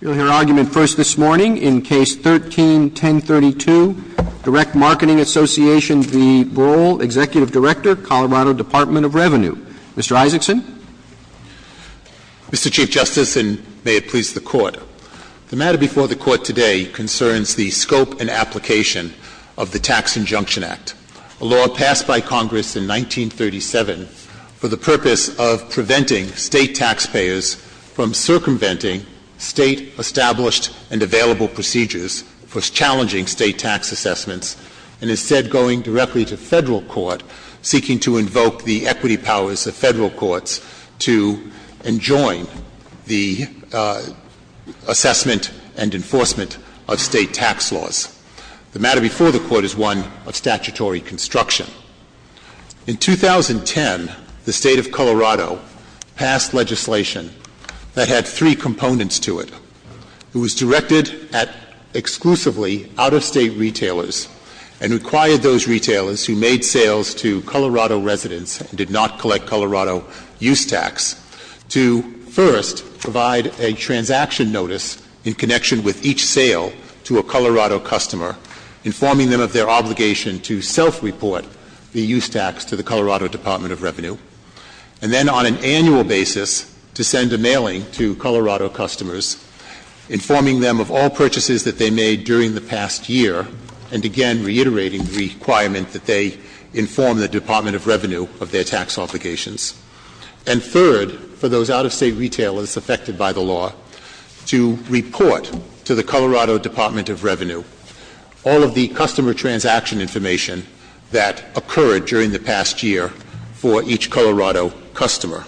You'll hear argument first this morning in Case 13-1032, Direct Marketing Association v. Brohl, Executive Director, Colorado Department of Revenue. Mr. Isaacson. Mr. Chief Justice, and may it please the Court. The matter before the Court today concerns the scope and application of the Tax Injunction Act, a law passed by Congress in 1937 for the purpose of preventing state taxpayers from circumventing state-established and available procedures for challenging state tax assessments, and instead going directly to federal court, seeking to invoke the equity powers of federal courts to enjoin the assessment and enforcement of state tax laws. The matter before the Court is one of statutory construction. In 2010, the State of Colorado passed legislation that had three components to it. It was directed at exclusively out-of-state retailers and required those retailers who made sales to Colorado residents and did not collect Colorado use tax to first provide a transaction notice in connection with each sale to a Colorado customer, informing them of their obligation to self-report the use tax to the Colorado Department of Revenue, and then on an annual basis to send a mailing to Colorado customers informing them of all purchases that they made during the past year, and again reiterating the requirement that they inform the Department of Revenue of their tax obligations. And third, for those out-of-state retailers affected by the law, to report to the Colorado Department of Revenue all of the customer transaction information that occurred during the past year for each Colorado customer.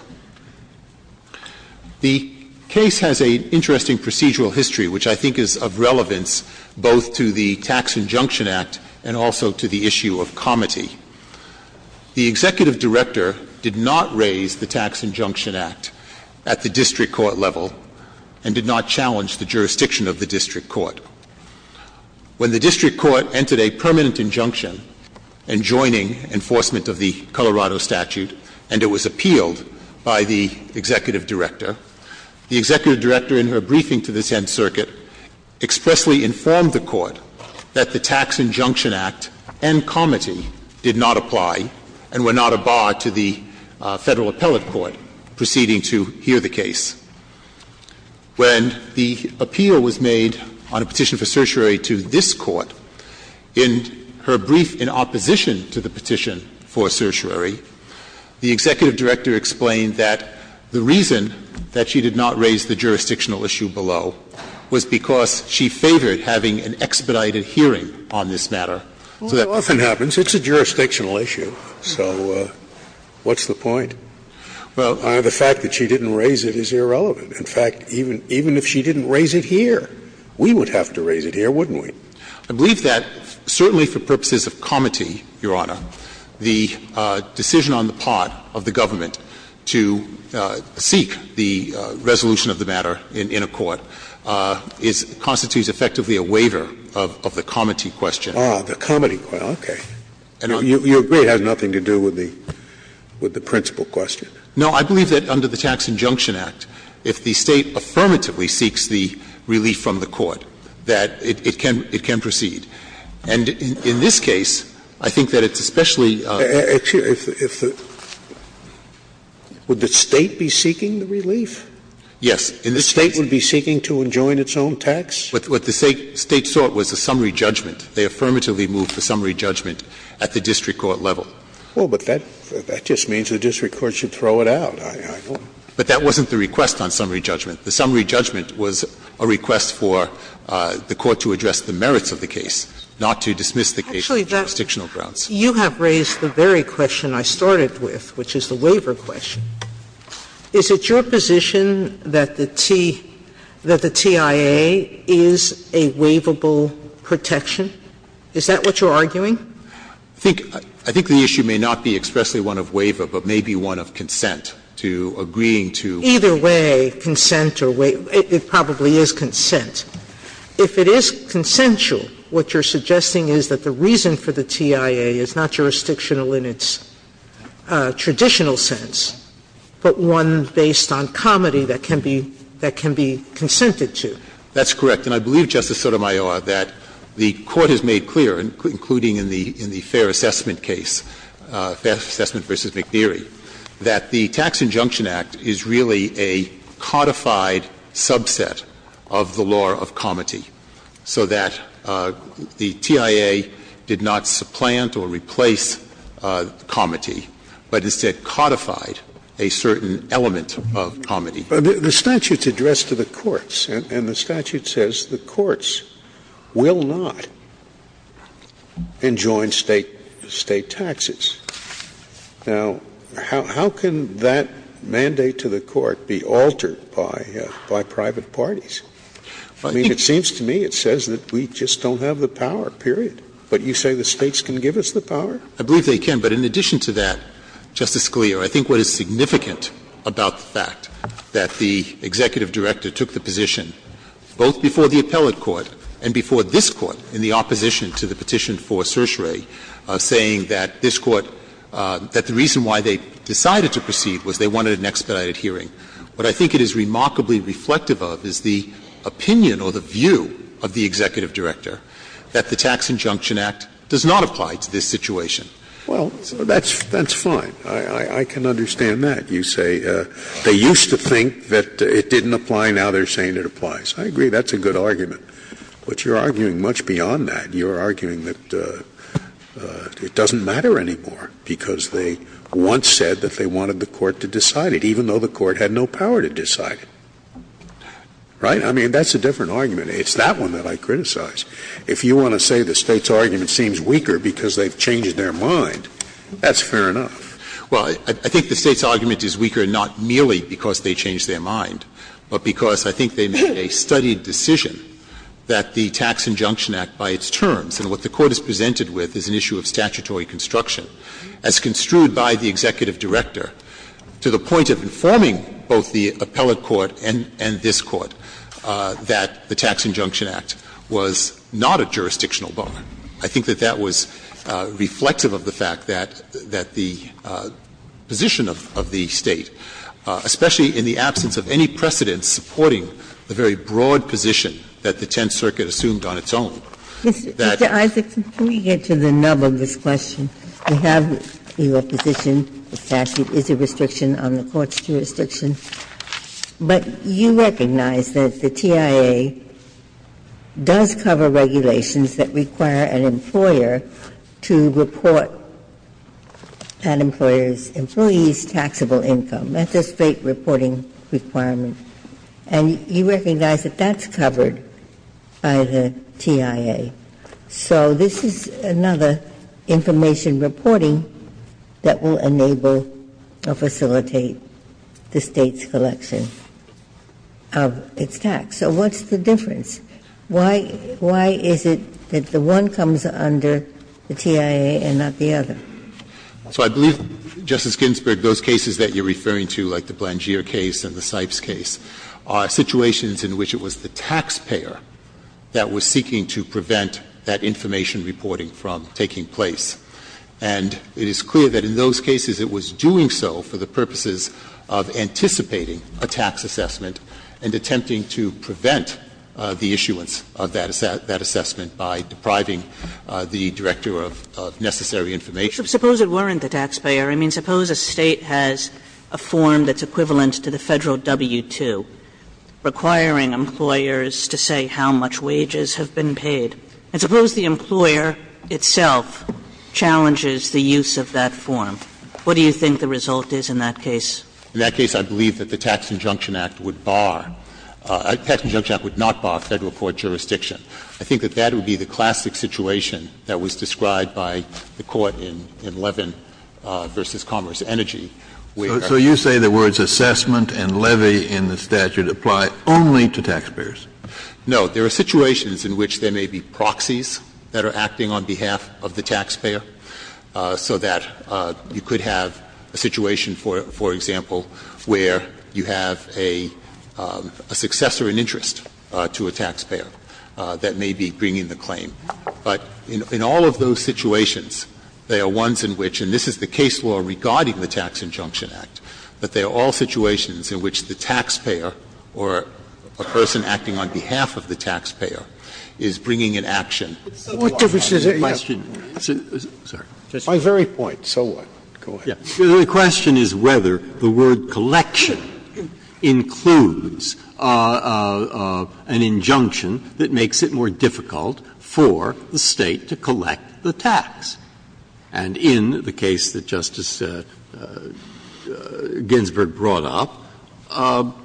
The case has an interesting procedural history, which I think is of relevance both to the Tax Injunction Act and also to the issue of comity. The Executive Director did not raise the Tax Injunction Act at the district court level and did not challenge the jurisdiction of the district court. When the district court entered a permanent injunction enjoining enforcement of the Colorado statute and it was appealed by the Executive Director, the Executive Director in her briefing to the 10th Circuit expressly informed the Court that the Tax Injunction Act and comity did not apply and were not a bar to the Federal Appellate Court proceeding to hear the case. When the appeal was made on a petition for certiorari to this Court, in her brief in opposition to the petition for certiorari, the Executive Director explained that the reason that she did not raise the jurisdictional issue below was because she favored having an expedited hearing on this matter. So that's the point. Scalia, Well, it often happens. It's a jurisdictional issue. So what's the point? Well, the fact that she didn't raise it is irrelevant. In fact, even if she didn't raise it here, we would have to raise it here, wouldn't I believe that certainly for purposes of comity, Your Honor, the decision on the part of the government to seek the resolution of the matter in a court is — constitutes effectively a waiver of the comity question. Ah, the comity question, okay. You agree it has nothing to do with the principle question? No, I believe that under the Tax Injunction Act, if the State affirmatively seeks the relief from the court, that it can — it can proceed. And in this case, I think that it's especially — Would the State be seeking the relief? Yes. The State would be seeking to enjoin its own tax? What the State sought was a summary judgment. They affirmatively moved for summary judgment at the district court level. Well, but that just means the district court should throw it out. But that wasn't the request on summary judgment. The summary judgment was a request for the court to address the merits of the case, not to dismiss the case on jurisdictional grounds. You have raised the very question I started with, which is the waiver question. Is it your position that the TIA is a waivable protection? Is that what you're arguing? I think the issue may not be expressly one of waiver, but may be one of consent to agreeing to— Either way, consent or waiver, it probably is consent. If it is consensual, what you're suggesting is that the reason for the TIA is not jurisdictional in its traditional sense, but one based on comity that can be — that can be consented to. That's correct. And I believe, Justice Sotomayor, that the Court has made clear, including in the Fair Assessment case, Fair Assessment v. McNeary, that the Tax Injunction Act is really a codified subset of the law of comity, so that the TIA did not supplant or replace comity, but instead codified a certain element of comity. But the statute's addressed to the courts, and the statute says the courts will not enjoin State taxes. Now, how can that mandate to the court be altered by private parties? I mean, it seems to me it says that we just don't have the power, period. But you say the States can give us the power? I believe they can. But in addition to that, Justice Scalia, I think what is significant about the fact that the executive director took the position, both before the appellate court and before this Court in the opposition to the petition for certiorari, saying that this Court — that the reason why they decided to proceed was they wanted an expedited hearing, what I think it is remarkably reflective of is the opinion or the view of the executive director that the Tax Injunction Act does not apply to this situation. Well, that's fine. I can understand that. You say they used to think that it didn't apply. Now they're saying it applies. I agree. That's a good argument. But you're arguing much beyond that. You're arguing that it doesn't matter anymore because they once said that they wanted the court to decide it, even though the court had no power to decide it. Right? I mean, that's a different argument. It's that one that I criticize. If you want to say the States' argument seems weaker because they've changed their mind, that's fair enough. Well, I think the States' argument is weaker not merely because they changed their mind, but because I think they made a studied decision that the Tax Injunction Act by its terms, and what the Court has presented with is an issue of statutory construction, as construed by the executive director, to the point of informing both the appellate court and this Court that the Tax Injunction Act was not a jurisdictional bar. I think that that was reflective of the fact that the position of the State, especially in the absence of any precedents supporting the very broad position that the Tenth Circuit assumed on its own, that the State's position was not a jurisdictional bar. Ginsburg. Mr. Isaacson, before we get to the nub of this question, we have your position, the fact that it is a restriction on the Court's jurisdiction, but you recognize that the TIA does cover regulations that require an employer to report an employer's employees' taxable income. That's a State reporting requirement. And you recognize that that's covered by the TIA. So this is another information reporting that will enable or facilitate the State's collection of its tax. So what's the difference? Why is it that the one comes under the TIA and not the other? So I believe, Justice Ginsburg, those cases that you're referring to, like the Blandgeer case and the Sipes case, are situations in which it was the taxpayer that was seeking to prevent that information reporting from taking place. And it is clear that in those cases it was doing so for the purposes of anticipating a tax assessment and attempting to prevent the issuance of that assessment by depriving the director of necessary information. Suppose it weren't the taxpayer? I mean, suppose a State has a form that's equivalent to the Federal W-2 requiring employers to say how much wages have been paid. And suppose the employer itself challenges the use of that form. What do you think the result is in that case? In that case, I believe that the Tax Injunction Act would bar – the Tax Injunction Act would not bar Federal court jurisdiction. I think that that would be the classic situation that was described by the Court in Levin v. Commerce Energy, where – Scalia, you're not saying that there are situations in which it applies only to taxpayers? No. There are situations in which there may be proxies that are acting on behalf of the taxpayer, so that you could have a situation, for example, where you have a successor in interest to a taxpayer that may be bringing the claim. But in all of those situations, there are ones in which – and this is the case law regarding the Tax Injunction Act, but there are all situations in which the taxpayer or a person acting on behalf of the taxpayer is bringing an action. Scalia, what difference does it make? My very point, so what? Go ahead. The question is whether the word collection includes an injunction that makes it more difficult for the State to collect the tax. And in the case that Justice Ginsburg brought up,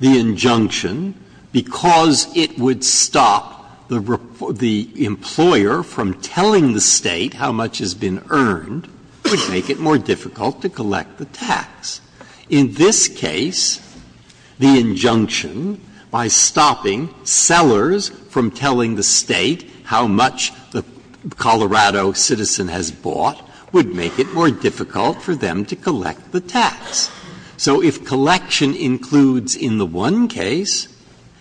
the injunction, because it would stop the employer from telling the State how much has been earned, would make it more difficult to collect the tax. In this case, the injunction, by stopping sellers from telling the State how much the Colorado citizen has bought, would make it more difficult for them to collect the tax. So if collection includes in the one case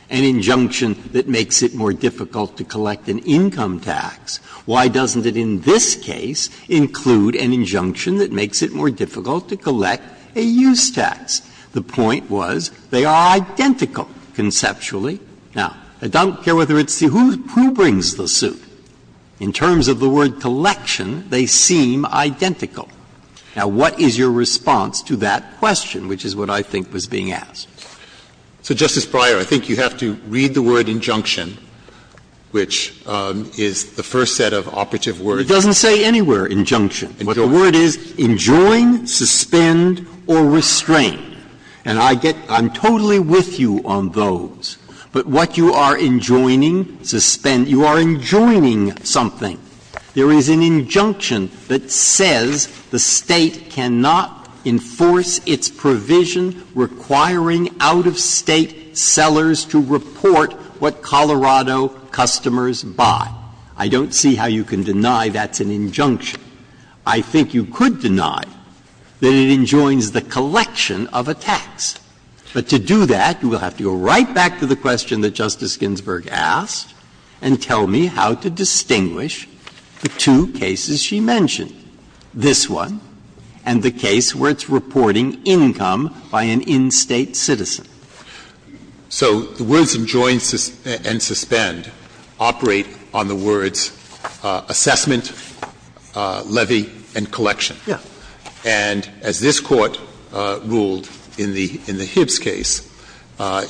an injunction that makes it more difficult to collect an income tax, why doesn't it in this case include an injunction that makes it more difficult to collect a use tax? The point was they are identical conceptually. Now, I don't care whether it's the – who brings the suit? In terms of the word collection, they seem identical. Now, what is your response to that question, which is what I think was being asked? So, Justice Breyer, I think you have to read the word injunction, which is the first set of operative words. It doesn't say anywhere injunction. What the word is, enjoin, suspend, or restrain. And I get – I'm totally with you on those. But what you are enjoining, suspend – you are enjoining something. There is an injunction that says the State cannot enforce its provision requiring out-of-State sellers to report what Colorado customers buy. I don't see how you can deny that's an injunction. I think you could deny that it enjoins the collection of a tax. But to do that, you will have to go right back to the question that Justice Ginsburg asked and tell me how to distinguish the two cases she mentioned, this one and the case where it's reporting income by an in-State citizen. So the words enjoin and suspend operate on the words assessment, levy, and collection. Yeah. And as this Court ruled in the – in the Hibbs case,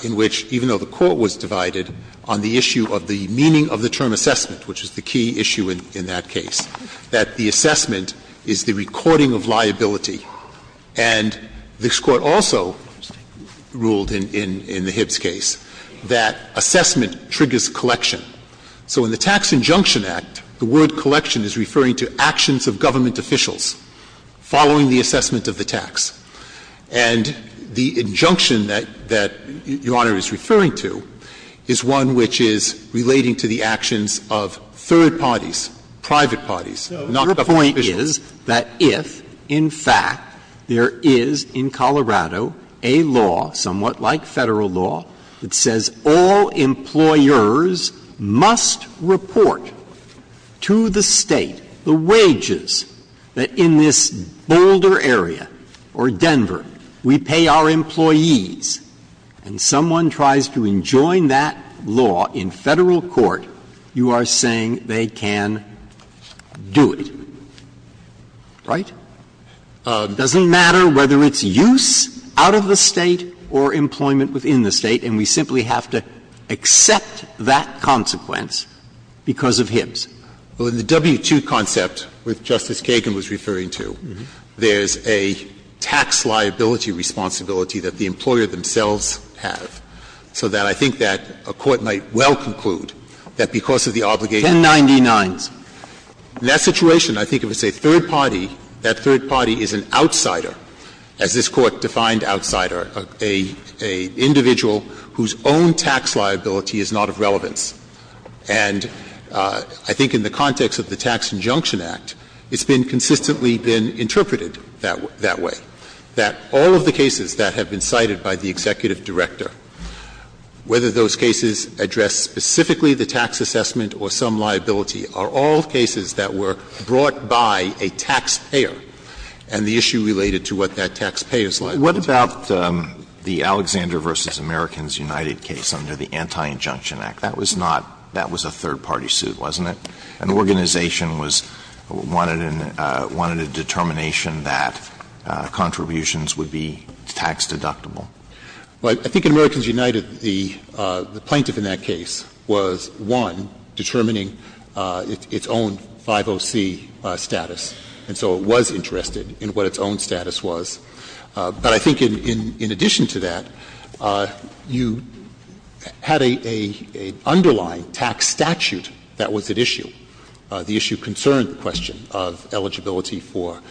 in which, even though the Court was divided on the issue of the meaning of the term assessment, which is the key issue in that case, that the assessment is the recording of liability. And this Court also ruled in the Hibbs case that assessment triggers collection. So in the Tax Injunction Act, the word collection is referring to actions of government officials following the assessment of the tax. And the injunction that Your Honor is referring to is one which is relating to the actions of third parties, private parties, not the public officials. So your point is that if, in fact, there is in Colorado a law, somewhat like Federal law, that says all employers must report to the State the wages that in this Boulder area or Denver we pay our employees, and someone tries to enjoin that law in Federal court, you are saying they can do it, right? It doesn't matter whether it's use out of the State or employment within the State, and we simply have to accept that consequence because of Hibbs. Well, in the W-2 concept, which Justice Kagan was referring to, there's a tax liability responsibility that the employer themselves have. So that I think that a court might well conclude that because of the obligation of the State. 1099s. In that situation, I think if it's a third party, that third party is an outsider, as this Court defined outsider, a individual whose own tax liability is not of relevance. And I think in the context of the Tax Injunction Act, it's been consistently been interpreted that way, that all of the cases that have been cited by the executive director, whether those cases address specifically the tax assessment or some liability are all cases that were brought by a taxpayer, and the issue related to what that taxpayer's liability is. Alito, what about the Alexander v. Americans United case under the Anti-Injunction Act? That was not — that was a third party suit, wasn't it? An organization was — wanted a determination that contributions would be tax deductible. Well, I think in Americans United, the plaintiff in that case was, one, determining its own 50C status, and so it was interested in what its own status was. But I think in addition to that, you had an underlying tax statute that was at issue, the issue concerned the question of eligibility for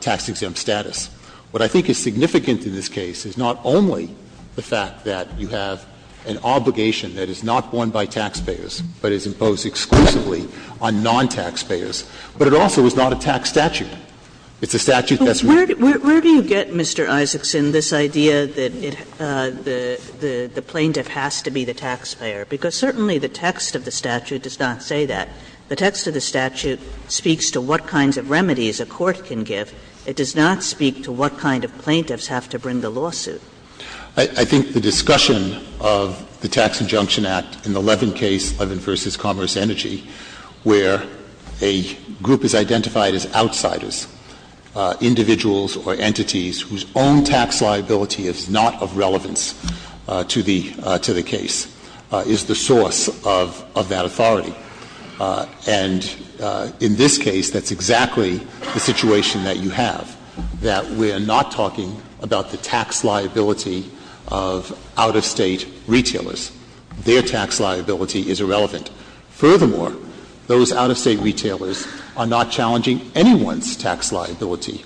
tax-exempt status. What I think is significant in this case is not only the fact that you have an obligation that is not borne by taxpayers, but is imposed exclusively on non-taxpayers, but it also is not a tax statute. It's a statute that's— Kagan. Where do you get, Mr. Isaacson, this idea that the plaintiff has to be the taxpayer? Because certainly the text of the statute does not say that. The text of the statute speaks to what kinds of remedies a court can give. It does not speak to what kind of plaintiffs have to bring the lawsuit. I think the discussion of the Tax Injunction Act in the Levin case, Levin v. Commerce Energy, where a group is identified as outsiders, individuals or entities whose own tax liability is not of relevance to the — to the case, is the source of that authority. And in this case, that's exactly the situation that you have, that we're not talking about the tax liability of out-of-State retailers. Their tax liability is irrelevant. Furthermore, those out-of-State retailers are not challenging anyone's tax liability,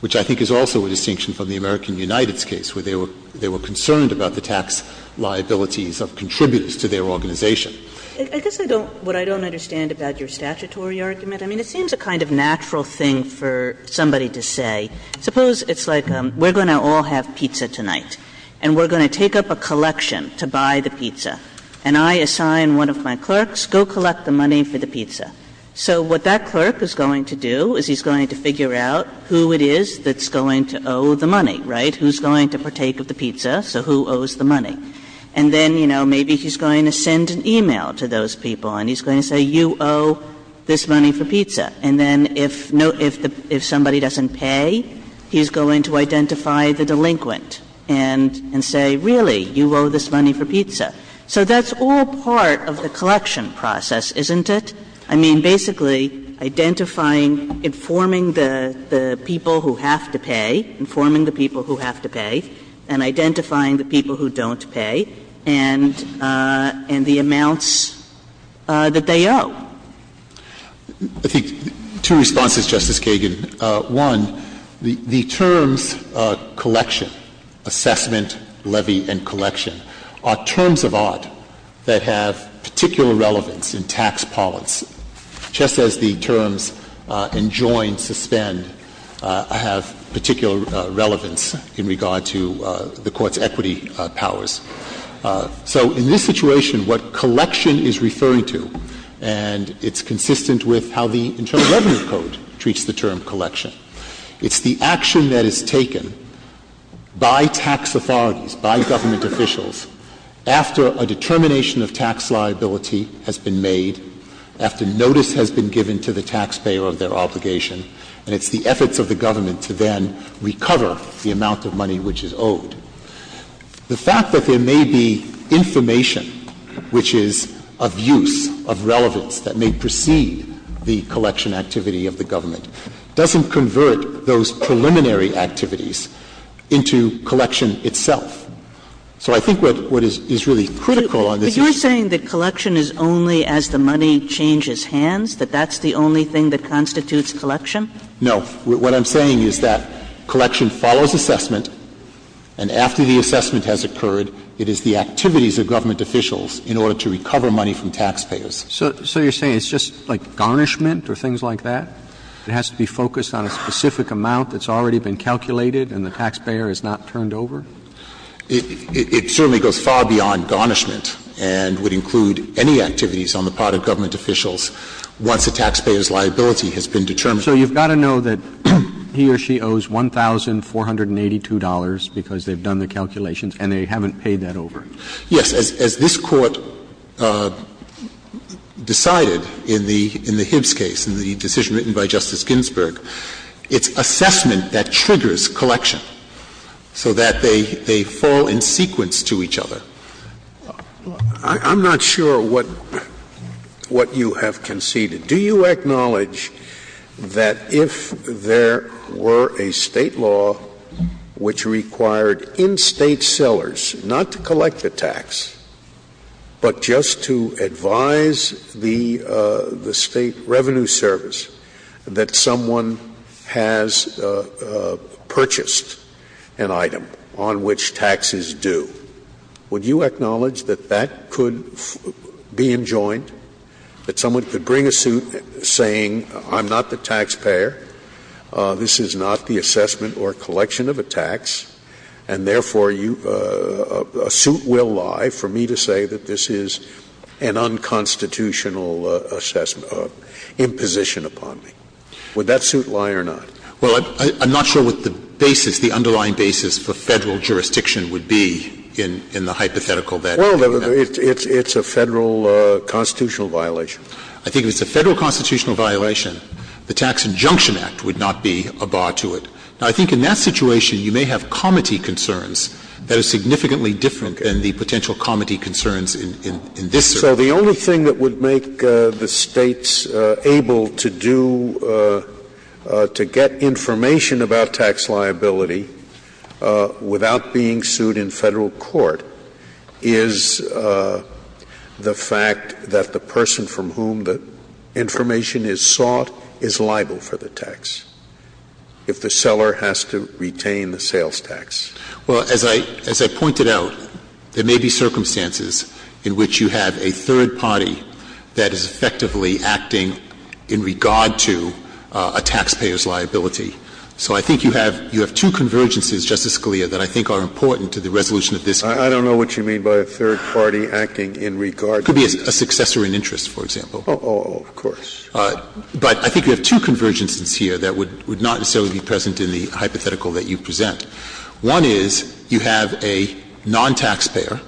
which I think is also a distinction from the American United's case, where they were concerned about the tax liabilities of contributors to their organization. Kagan. Kagan. I guess I don't — what I don't understand about your statutory argument, I mean, it seems a kind of natural thing for somebody to say, suppose it's like we're going to all have pizza tonight, and we're going to take up a collection to buy the pizza, and I assign one of my clerks, go collect the money for the pizza. So what that clerk is going to do is he's going to figure out who it is that's going to owe the money, right? Who's going to partake of the pizza, so who owes the money? And then, you know, maybe he's going to send an e-mail to those people, and he's going to say, you owe this money for pizza. And then if no — if somebody doesn't pay, he's going to identify the delinquent and say, really, you owe this money for pizza. So that's all part of the collection process, isn't it? I mean, basically identifying, informing the people who have to pay, informing the people who have to pay, and identifying the people who don't pay, and the amounts that they owe. I think two responses, Justice Kagan. One, the terms collection, assessment, levy, and collection are terms of art that have particular relevance in tax parlance, just as the terms enjoin, suspend have particular relevance in regard to the Court's equity powers. So in this situation, what collection is referring to, and it's consistent with how the Internal Revenue Code treats the term collection, it's the action that is taken by tax authorities, by government officials, after a determination of tax liability has been made, after notice has been given to the taxpayer of their property, and then recover the amount of money which is owed. The fact that there may be information which is of use, of relevance, that may precede the collection activity of the government, doesn't convert those preliminary activities into collection itself. So I think what is really critical on this issue is that collection is only as the money changes hands, that that's the only thing that constitutes collection? No. What I'm saying is that collection follows assessment, and after the assessment has occurred, it is the activities of government officials in order to recover money from taxpayers. So you're saying it's just like garnishment or things like that? It has to be focused on a specific amount that's already been calculated and the taxpayer has not turned over? It certainly goes far beyond garnishment and would include any activities on the part of government officials once a taxpayer's liability has been determined. So you've got to know that he or she owes $1,482 because they've done the calculations and they haven't paid that over? Yes. As this Court decided in the Hibbs case, in the decision written by Justice Ginsburg, it's assessment that triggers collection so that they fall in sequence to each other. I'm not sure what you have conceded. Do you acknowledge that if there were a State law which required in-State sellers not to collect a tax, but just to advise the State Revenue Service that someone has purchased an item on which tax is due, would you acknowledge that that could be enjoined, that someone could bring a suit saying I'm not the taxpayer, this is not the assessment or collection of a tax, and therefore a suit will lie for me to say that this is an unconstitutional imposition upon me? Would that suit lie or not? Well, I'm not sure what the basis, the underlying basis for Federal jurisdiction would be in the hypothetical that you're talking about. Well, it's a Federal constitutional violation. I think if it's a Federal constitutional violation, the Tax Injunction Act would not be a bar to it. Now, I think in that situation, you may have comity concerns that are significantly different than the potential comity concerns in this case. So the only thing that would make the States able to do to get information about tax liability without being sued in Federal court is the fact that the person from whom the information is sought is liable for the tax if the seller has to retain the sales tax. Well, as I pointed out, there may be circumstances in which you have a third party that is effectively acting in regard to a taxpayer's liability. So I think you have two convergences, Justice Scalia, that I think are important to the resolution of this case. I don't know what you mean by a third party acting in regard to. It could be a successor in interest, for example. Oh, of course. But I think you have two convergences here that would not necessarily be present in the hypothetical that you present. One is you have a non-taxpayer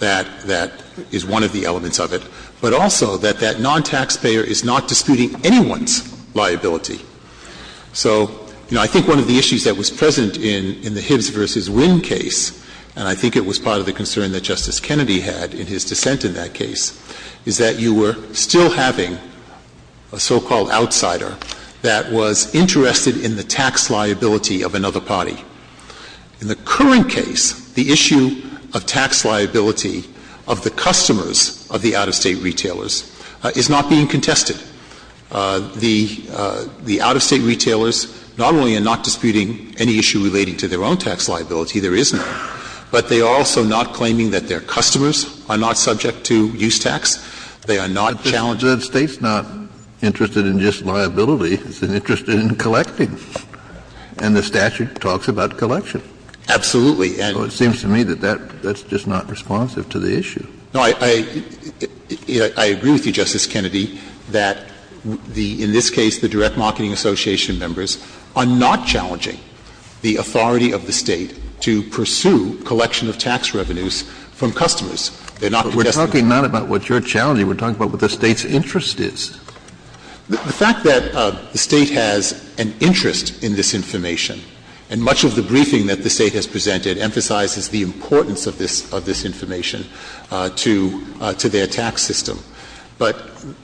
that is one of the elements of it, but also that that non-taxpayer is not disputing anyone's liability. So, you know, I think one of the issues that was present in the Hibbs v. Winn case, and I think it was part of the concern that Justice Kennedy had in his dissent in that case, is that you were still having a so-called outsider that was interested in the tax liability of another party. In the current case, the issue of tax liability of the customers of the out-of-state retailers is not being contested. The out-of-state retailers not only are not disputing any issue relating to their own tax liability, there is none. But they are also not claiming that their customers are not subject to use tax. They are not challenging. But the State's not interested in just liability. It's interested in collecting. And the statute talks about collection. Absolutely. So it seems to me that that's just not responsive to the issue. No, I agree with you, Justice Kennedy, that the — in this case, the direct marketing association members are not challenging the authority of the State to pursue collection of tax revenues from customers. They're not contesting them. But we're talking not about what you're challenging. We're talking about what the State's interest is. The fact that the State has an interest in this information, and much of the briefing that the State has presented emphasizes the importance of this information to their tax system. But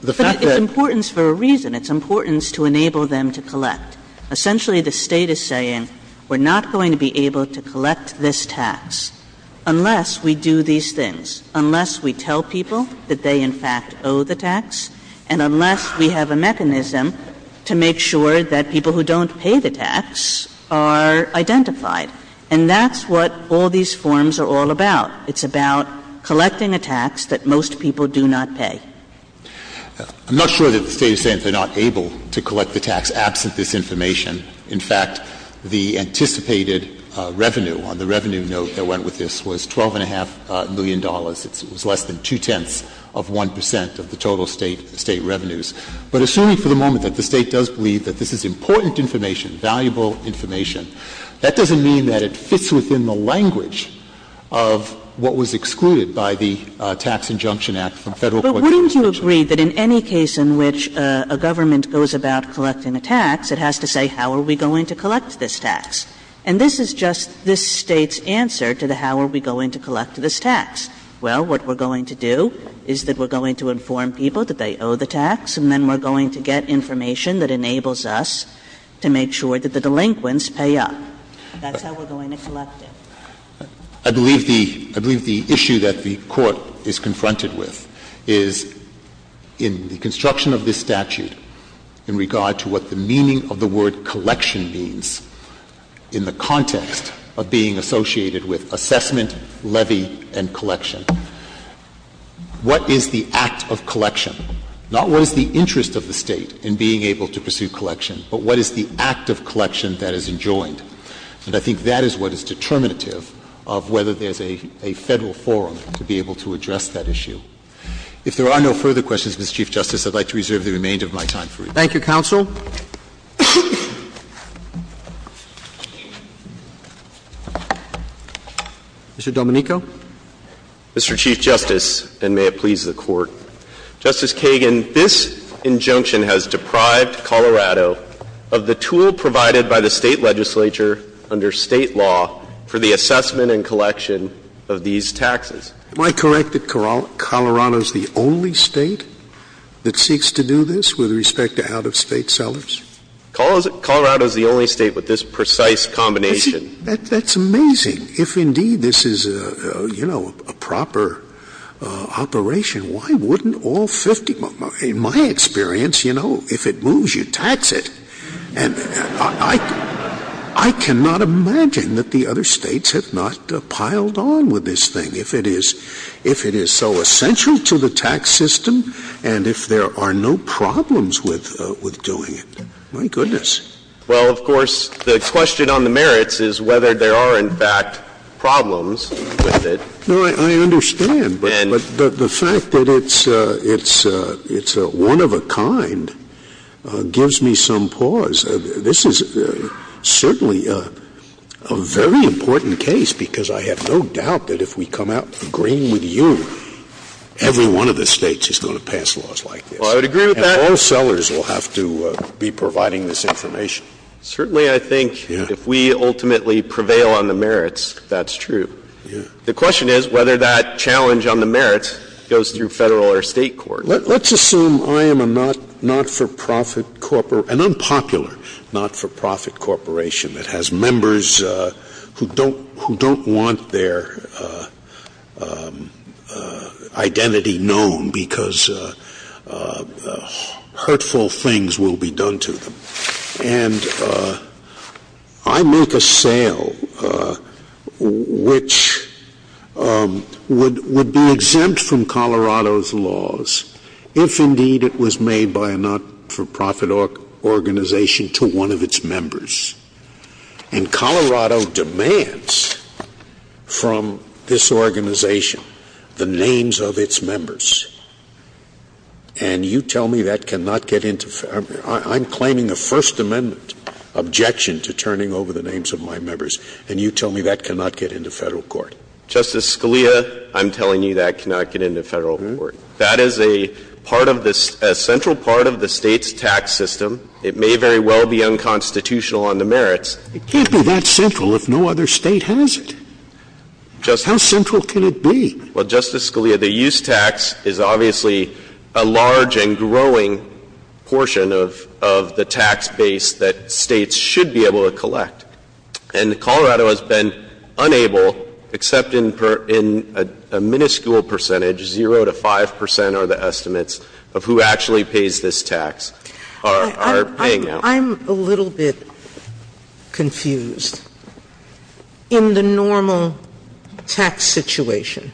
the fact that — But it's importance for a reason. It's importance to enable them to collect. Essentially, the State is saying we're not going to be able to collect this tax unless we do these things, unless we tell people that they, in fact, owe the tax, and unless we have a mechanism to make sure that people who don't pay the tax are identified. And that's what all these forms are all about. It's about collecting a tax that most people do not pay. I'm not sure that the State is saying they're not able to collect the tax absent this information. In fact, the anticipated revenue on the revenue note that went with this was $12.5 million. It was less than two-tenths of 1 percent of the total State revenues. But assuming for the moment that the State does believe that this is important information, valuable information, that doesn't mean that it fits within the language of what was excluded by the Tax Injunction Act from Federal collection regulations. But wouldn't you agree that in any case in which a government goes about collecting a tax, it has to say how are we going to collect this tax? And this is just this State's answer to the how are we going to collect this tax. Well, what we're going to do is that we're going to inform people that they owe the to make sure that the delinquents pay up. That's how we're going to collect it. I believe the issue that the Court is confronted with is in the construction of this statute in regard to what the meaning of the word collection means in the context of being associated with assessment, levy, and collection. What is the act of collection? Not what is the interest of the State in being able to pursue collection, but what is the act of collection that is enjoined? And I think that is what is determinative of whether there's a Federal forum to be able to address that issue. If there are no further questions, Mr. Chief Justice, I'd like to reserve the remainder of my time for rebuttal. Thank you, counsel. Mr. Domenico. Mr. Chief Justice, and may it please the Court. Justice Kagan, this injunction has deprived Colorado of the tool provided by the State legislature under State law for the assessment and collection of these taxes. Am I correct that Colorado is the only State that seeks to do this with respect to out-of-State sellers? Colorado is the only State with this precise combination. That's amazing. If indeed this is, you know, a proper operation, why wouldn't all 50? In my experience, you know, if it moves, you tax it. And I cannot imagine that the other States have not piled on with this thing if it is so essential to the tax system and if there are no problems with doing it. My goodness. Well, of course, the question on the merits is whether there are, in fact, other problems with it. No, I understand. But the fact that it's a one-of-a-kind gives me some pause. This is certainly a very important case because I have no doubt that if we come out agreeing with you, every one of the States is going to pass laws like this. Well, I would agree with that. And all sellers will have to be providing this information. Certainly, I think, if we ultimately prevail on the merits, that's true. The question is whether that challenge on the merits goes through Federal or State court. Let's assume I am a not-for-profit corporation, an unpopular not-for-profit corporation that has members who don't want their identity known because hurtful things will be done to them. And I make a sale which would be exempt from Colorado's laws if, indeed, it was made by a not-for-profit organization to one of its members. And Colorado demands from this organization the names of its members. And you tell me that cannot get into Federal. I'm claiming a First Amendment objection to turning over the names of my members. And you tell me that cannot get into Federal court. Justice Scalia, I'm telling you that cannot get into Federal court. That is a part of this, a central part of the State's tax system. It may very well be unconstitutional on the merits. It can't be that central if no other State has it. How central can it be? Well, Justice Scalia, the use tax is obviously a large and growing portion of the tax base that States should be able to collect. And Colorado has been unable, except in a minuscule percentage, 0 to 5 percent are the estimates of who actually pays this tax, are paying now. Well, I'm a little bit confused. In the normal tax situation,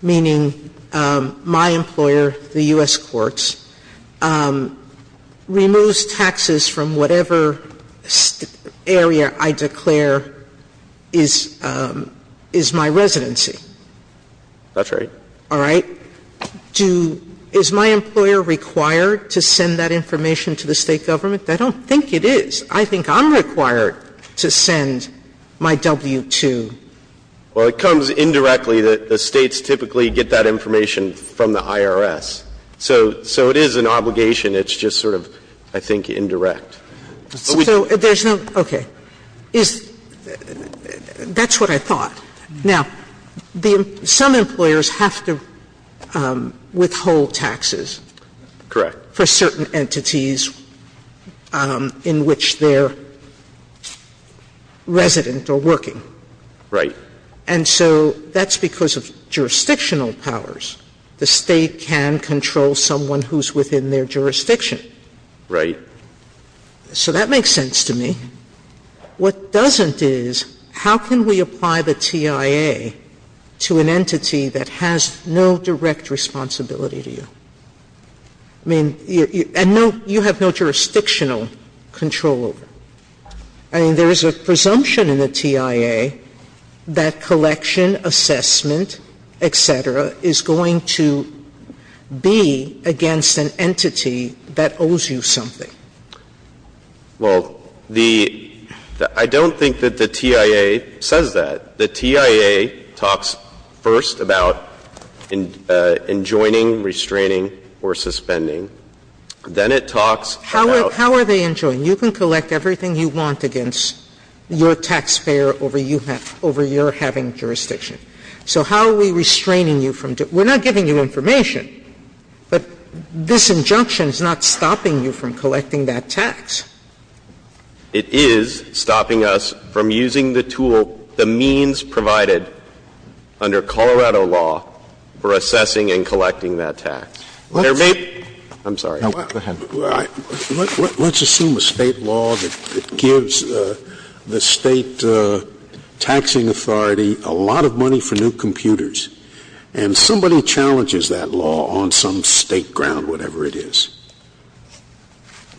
meaning my employer, the U.S. courts, removes taxes from whatever area I declare is my residency. That's right. All right. Is my employer required to send that information to the State government? I don't think it is. I think I'm required to send my W-2. Well, it comes indirectly. The States typically get that information from the IRS. So it is an obligation. It's just sort of, I think, indirect. So there's no, okay. That's what I thought. Now, some employers have to withhold taxes. Correct. For certain entities in which they're resident or working. Right. And so that's because of jurisdictional powers. The State can control someone who's within their jurisdiction. Right. So that makes sense to me. What doesn't is, how can we apply the TIA to an entity that has no direct responsibility to you? I mean, and you have no jurisdictional control over it. I mean, there's a presumption in the TIA that collection, assessment, et cetera, is going to be against an entity that owes you something. Well, the — I don't think that the TIA says that. The TIA talks first about enjoining, restraining, or suspending. Then it talks about — How are they enjoined? You can collect everything you want against your taxpayer over your having jurisdiction. So how are we restraining you from — we're not giving you information, but this is the way we're restraining you from collecting that tax. It is stopping us from using the tool, the means provided under Colorado law, for assessing and collecting that tax. Let's — I'm sorry. Go ahead. Let's assume a State law that gives the State taxing authority a lot of money for new computers, and somebody challenges that law on some State ground, or whatever it is.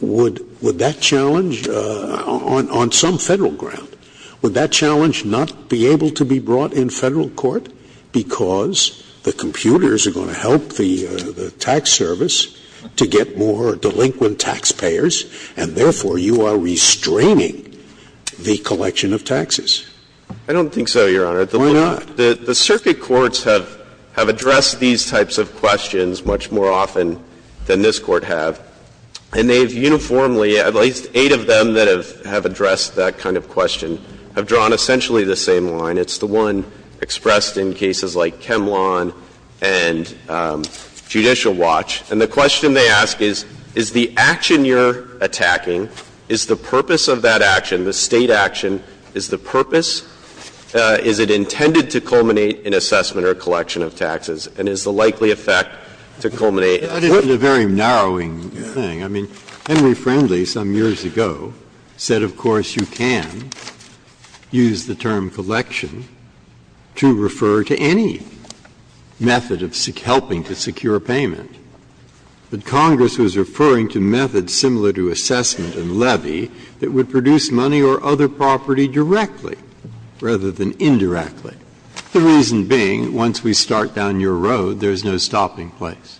Would that challenge — on some Federal ground, would that challenge not be able to be brought in Federal court because the computers are going to help the tax service to get more delinquent taxpayers, and therefore you are restraining the collection of taxes? I don't think so, Your Honor. Why not? The circuit courts have addressed these types of questions much more often than this Court have, and they've uniformly — at least eight of them that have addressed that kind of question have drawn essentially the same line. It's the one expressed in cases like Kemlon and Judicial Watch. And the question they ask is, is the action you're attacking, is the purpose of that action to culminate in assessment or collection of taxes, and is the likely effect to culminate in what — That is a very narrowing thing. I mean, Henry Friendly some years ago said, of course, you can use the term collection to refer to any method of helping to secure payment. But Congress was referring to methods similar to assessment and levy that would produce money or other property directly rather than indirectly, the reason being once we start down your road, there's no stopping place.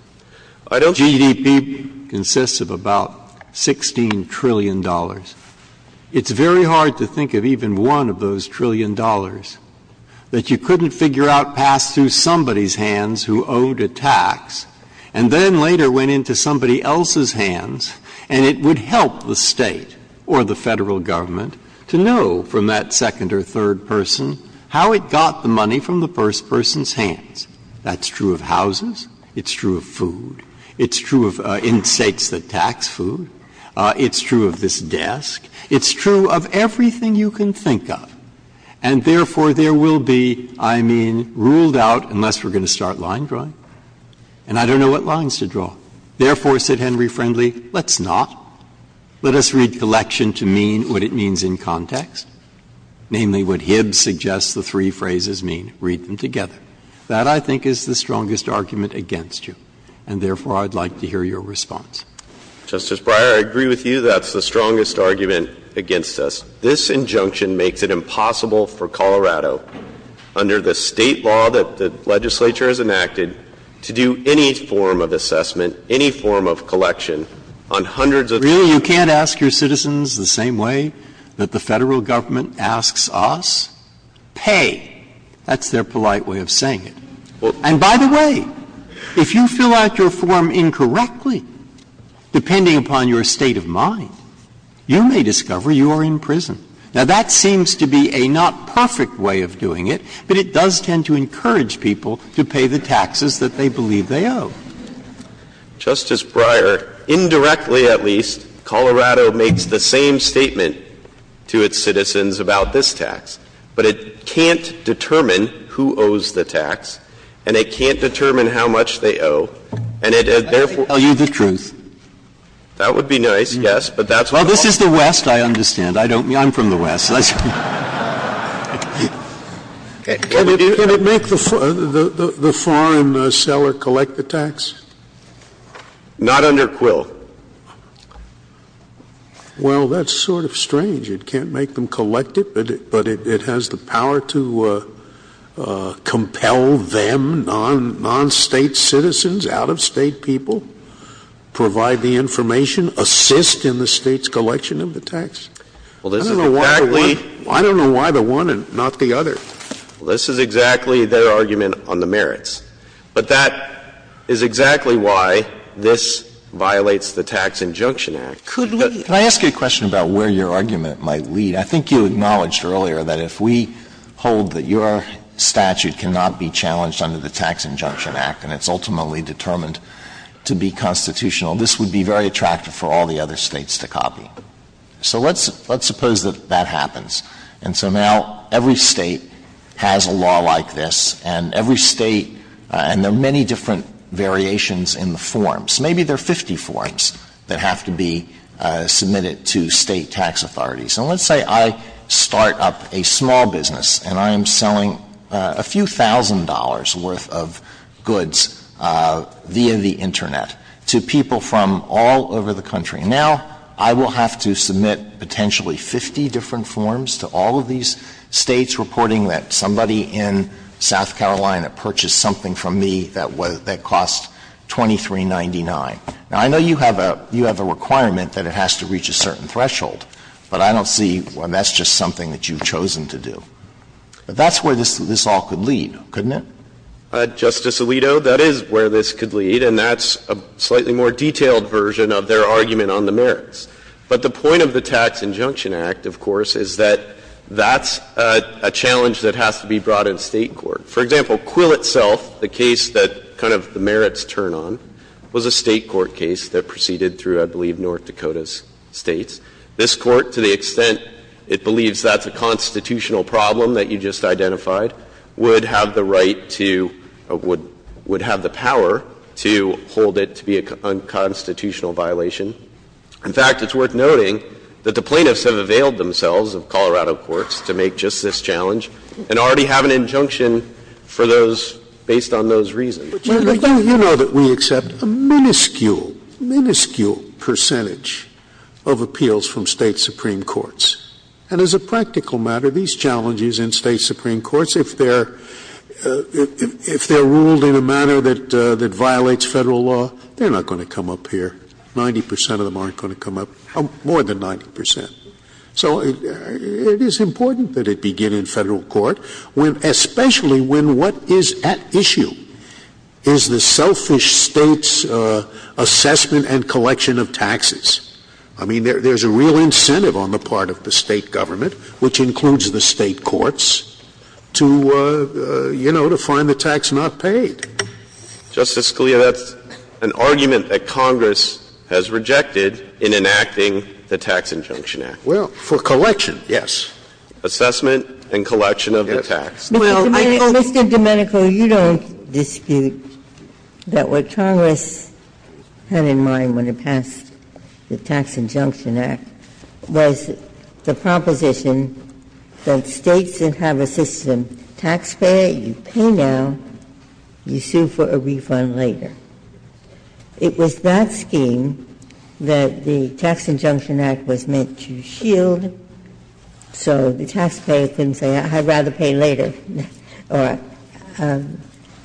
GDP consists of about $16 trillion. It's very hard to think of even one of those trillion dollars that you couldn't figure out passed through somebody's hands who owed a tax and then later went into somebody else's hands. And it would help the State or the Federal Government to know from that second or third person how it got the money from the first person's hands. That's true of houses. It's true of food. It's true of in States that tax food. It's true of this desk. It's true of everything you can think of. And therefore, there will be, I mean, ruled out, unless we're going to start line drawing. And I don't know what lines to draw. Therefore, said Henry Friendly, let's not. Let us read collection to mean what it means in context, namely what Hibbs suggests the three phrases mean. Read them together. That, I think, is the strongest argument against you. And therefore, I'd like to hear your response. Justice Breyer, I agree with you. That's the strongest argument against us. This injunction makes it impossible for Colorado, under the State law that the legislature has enacted, to do any form of assessment, any form of collection on hundreds Breyer, you can't ask your citizens the same way that the Federal Government asks us? Pay. That's their polite way of saying it. And by the way, if you fill out your form incorrectly, depending upon your state of mind, you may discover you are in prison. Now, that seems to be a not perfect way of doing it, but it does tend to encourage people to pay the taxes that they believe they owe. Justice Breyer, indirectly at least, Colorado makes the same statement to its citizens about this tax, but it can't determine who owes the tax, and it can't determine how much they owe, and it therefore I can tell you the truth. That would be nice, yes, but that's not Well, this is the West, I understand. I don't mean, I'm from the West. Can it make the foreign seller collect the tax? Not under Quill. Well, that's sort of strange. It can't make them collect it, but it has the power to compel them, non-state citizens, out-of-state people, provide the information, assist in the State's collection of the tax. I don't know why the one and not the other. Well, this is exactly their argument on the merits. But that is exactly why this violates the Tax Injunction Act. Could we Can I ask you a question about where your argument might lead? I think you acknowledged earlier that if we hold that your statute cannot be challenged under the Tax Injunction Act and it's ultimately determined to be constitutional, this would be very attractive for all the other States to copy. So let's suppose that that happens. And so now every State has a law like this, and every State – and there are many different variations in the forms. Maybe there are 50 forms that have to be submitted to State tax authorities. And let's say I start up a small business and I am selling a few thousand dollars worth of goods via the Internet to people from all over the country. Now, I will have to submit potentially 50 different forms to all of these States reporting that somebody in South Carolina purchased something from me that cost $23.99. Now, I know you have a requirement that it has to reach a certain threshold, but I don't see when that's just something that you've chosen to do. But that's where this all could lead, couldn't it? Justice Alito, that is where this could lead. And that's a slightly more detailed version of their argument on the merits. But the point of the Tax Injunction Act, of course, is that that's a challenge that has to be brought in State court. For example, Quill itself, the case that kind of the merits turn on, was a State court case that proceeded through, I believe, North Dakota's States. This Court, to the extent it believes that's a constitutional problem that you just identified, would have the right to or would have the power to hold it to be a unconstitutional violation. In fact, it's worth noting that the plaintiffs have availed themselves of Colorado courts to make just this challenge and already have an injunction for those based on those reasons. Scalia. You know that we accept a minuscule, minuscule percentage of appeals from State Supreme Courts. And as a practical matter, these challenges in State Supreme Courts, if they're ruled in a manner that violates Federal law, they're not going to come up here. Ninety percent of them aren't going to come up, more than 90 percent. So it is important that it begin in Federal court, especially when what is at issue is the selfish State's assessment and collection of taxes. I mean, there's a real incentive on the part of the State government, which includes the State courts, to, you know, to find the tax not paid. Justice Scalia, that's an argument that Congress has rejected in enacting the Tax Injunction Act. Well, for collection, yes. Assessment and collection of the tax. Mr. Domenico, you don't dispute that what Congress had in mind when it passed the Tax Injunction Act was the proposition that States that have a system, taxpayer, you pay now, you sue for a refund later. It was that scheme that the Tax Injunction Act was meant to shield, so the taxpayer couldn't say, I'd rather pay later.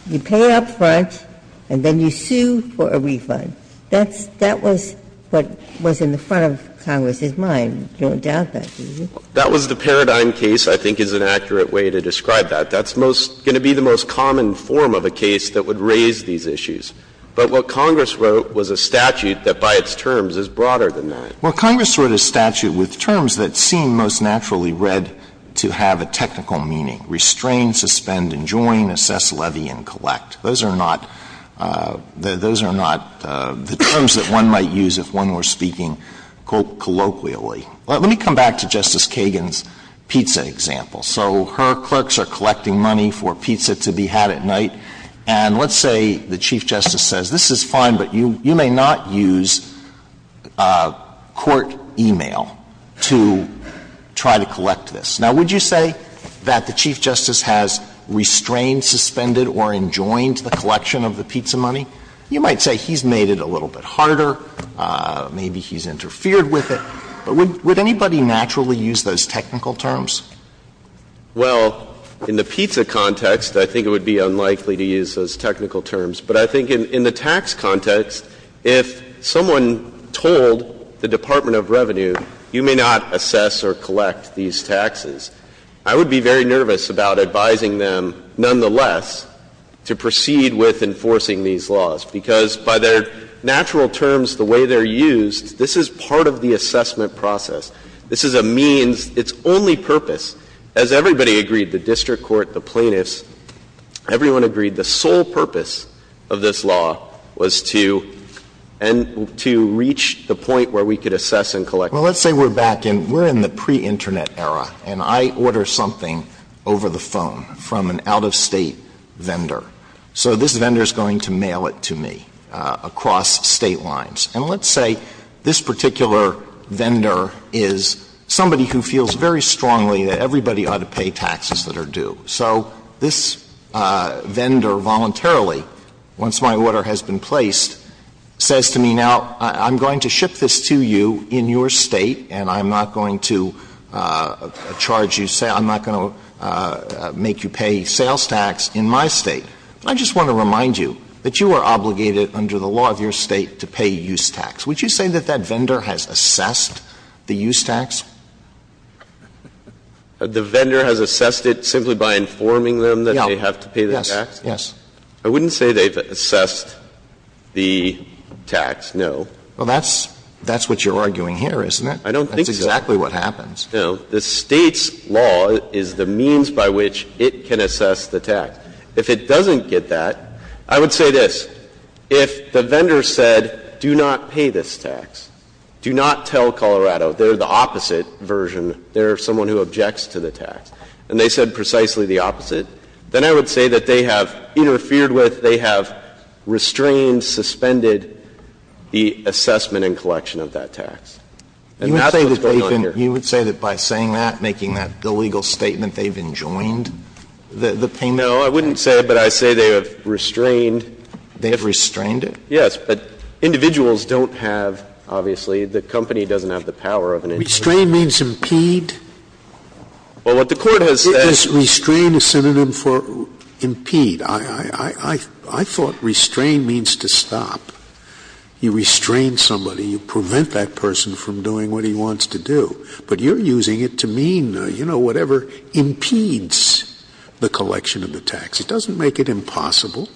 You pay up front, and then you sue for a refund. That was what was in the front of Congress's mind. You don't doubt that, do you? That was the paradigm case, I think, is an accurate way to describe that. That's going to be the most common form of a case that would raise these issues. But what Congress wrote was a statute that, by its terms, is broader than that. Well, Congress wrote a statute with terms that seem most naturally read to have a technical meaning. Restrain, suspend, and join. Assess, levy, and collect. Those are not the terms that one might use if one were speaking, quote, colloquially. Let me come back to Justice Kagan's pizza example. So her clerks are collecting money for pizza to be had at night, and let's say the Chief Justice says, this is fine, but you may not use court e-mail to try to collect this. Now, would you say that the Chief Justice has restrained, suspended, or enjoined the collection of the pizza money? You might say he's made it a little bit harder, maybe he's interfered with it, but would anybody naturally use those technical terms? Well, in the pizza context, I think it would be unlikely to use those technical terms, but I think in the tax context, if someone told the Department of Revenue, you may not assess or collect these taxes, I would be very nervous about advising them, nonetheless, to proceed with enforcing these laws, because by their natural terms, the way they're used, this is part of the assessment process. This is a means. It's only purpose. As everybody agreed, the district court, the plaintiffs, everyone agreed the sole purpose of this law was to reach the point where we could assess and collect. Well, let's say we're back in, we're in the pre-internet era, and I order something over the phone from an out-of-state vendor. So this vendor is going to mail it to me across State lines. And let's say this particular vendor is somebody who feels very strongly that everybody ought to pay taxes that are due. So this vendor voluntarily, once my order has been placed, says to me, now, I'm going to ship this to you in your State, and I'm not going to charge you, I'm not going to make you pay sales tax in my State. I just want to remind you that you are obligated under the law of your State to pay use tax. Would you say that that vendor has assessed the use tax? The vendor has assessed it simply by informing them that they have to pay the tax? Yes. Yes. I wouldn't say they've assessed the tax, no. Well, that's what you're arguing here, isn't it? I don't think so. That's exactly what happens. No. The State's law is the means by which it can assess the tax. If it doesn't get that, I would say this. If the vendor said, do not pay this tax, do not tell Colorado, they're the opposite version, they're someone who objects to the tax, and they said precisely the opposite, then I would say that they have interfered with, they have restrained, suspended the assessment and collection of that tax. And that's what's going on here. You would say that by saying that, making that illegal statement, they've enjoined the payment? No. I wouldn't say it, but I say they have restrained. They have restrained it? Yes. But individuals don't have, obviously, the company doesn't have the power of an individual. Restrain means impede. Well, what the Court has said is. Restrain is synonym for impede. I thought restrain means to stop. You restrain somebody. You prevent that person from doing what he wants to do. But you're using it to mean, you know, whatever impedes the collection of the tax. It doesn't make it impossible.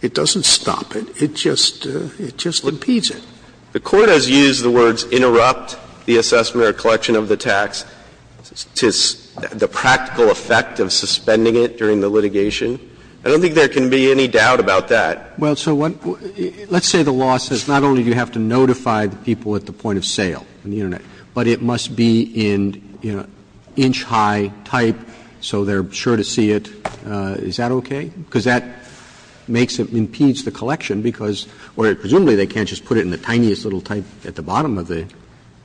It doesn't stop it. It just, it just impedes it. The Court has used the words interrupt the assessment or collection of the tax to the practical effect of suspending it during the litigation. I don't think there can be any doubt about that. Well, so what, let's say the law says not only do you have to notify the people at the point of sale on the Internet, but it must be in, you know, inch high type so they're sure to see it. Is that okay? Because that makes it, impedes the collection because, or presumably they can't just put it in the tiniest little type at the bottom of the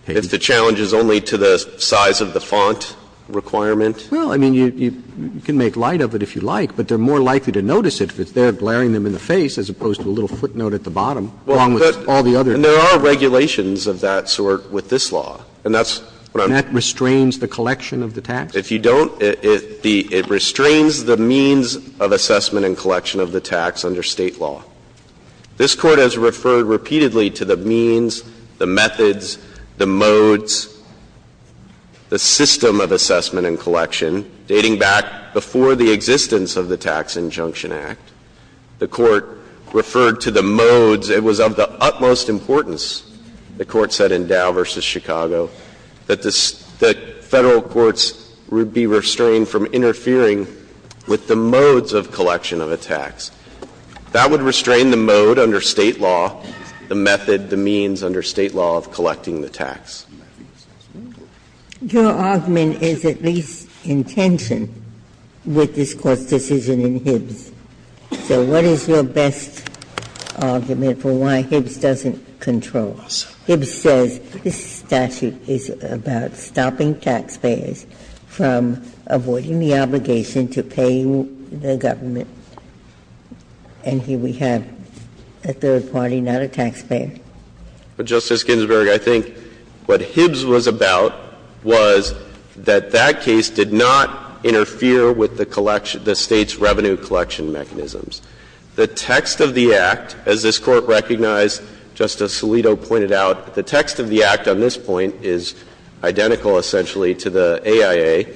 page. If the challenge is only to the size of the font requirement. Well, I mean, you can make light of it if you like, but they're more likely to notice it if it's there glaring them in the face as opposed to a little footnote at the bottom along with all the other. And there are regulations of that sort with this law, and that's what I'm. And that restrains the collection of the tax? If you don't, it restrains the means of assessment and collection of the tax under State law. This Court has referred repeatedly to the means, the methods, the modes, the system of assessment and collection dating back before the existence of the Tax Injunction Act. The Court referred to the modes. It was of the utmost importance, the Court said in Dow v. Chicago, that the Federal courts would be restrained from interfering with the modes of collection of a tax. That would restrain the mode under State law, the method, the means under State law of collecting the tax. Your argument is at least in tension with this Court's decision in Hibbs. So what is your best argument for why Hibbs doesn't control? Hibbs says this statute is about stopping taxpayers from avoiding the obligation to pay the government. And here we have a third party, not a taxpayer. But, Justice Ginsburg, I think what Hibbs was about was that that case did not interfere with the collection, the State's revenue collection mechanisms. The text of the Act, as this Court recognized, Justice Alito pointed out, the text of the Act on this point is identical, essentially, to the AIA.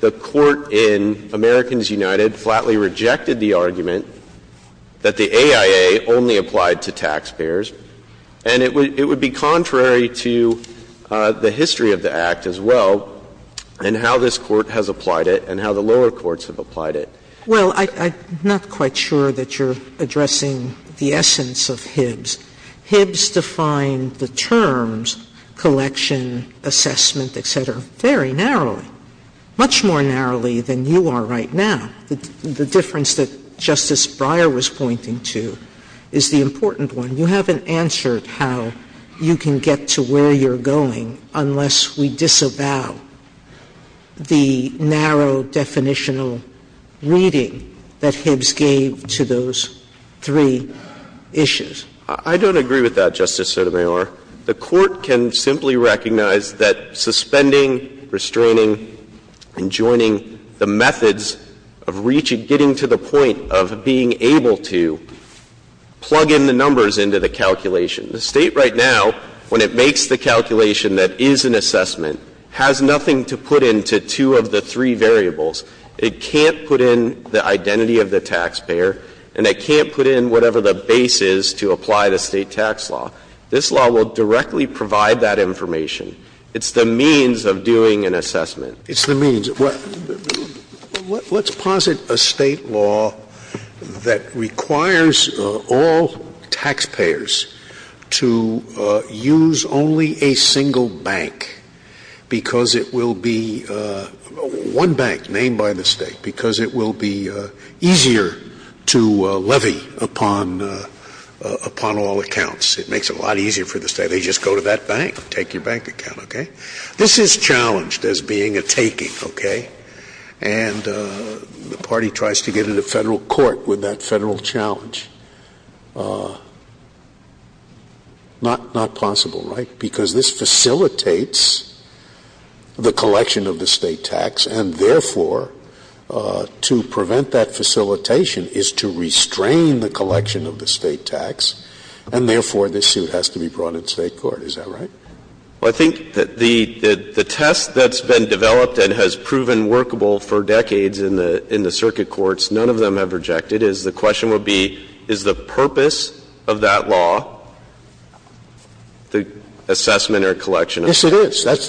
The Court in Americans United flatly rejected the argument that the AIA only applied to taxpayers, and it would be contrary to the history of the Act as well and how this Court has applied it and how the lower courts have applied it. Well, I'm not quite sure that you're addressing the essence of Hibbs. Hibbs defined the terms collection, assessment, et cetera, very narrowly, much more narrowly than you are right now. The difference that Justice Breyer was pointing to is the important one. You haven't answered how you can get to where you're going unless we disavow the narrow definitional reading that Hibbs gave to those three issues. I don't agree with that, Justice Sotomayor. The Court can simply recognize that suspending, restraining, and joining the methods of reaching, getting to the point of being able to plug in the numbers into the calculation. The State right now, when it makes the calculation that is an assessment, has nothing to put into two of the three variables. It can't put in the identity of the taxpayer, and it can't put in whatever the base is to apply the State tax law. This law will directly provide that information. It's the means of doing an assessment. It's the means. Let's posit a State law that requires all taxpayers to use only a single bank because it will be one bank named by the State, because it will be easier to levy upon all accounts. It makes it a lot easier for the State. They just go to that bank, take your bank account, okay? This is challenged as being a taking, okay? And the party tries to get into Federal court with that Federal challenge. Not possible, right? So the question is, is the purpose of that law, the assessment of the State tax law, is to prevent the collection of the State tax, and therefore, this suit has to be brought in State court, because this facilitates the collection of the State tax, and therefore, the State court has to be able to provide the assessment or collection. Scalia,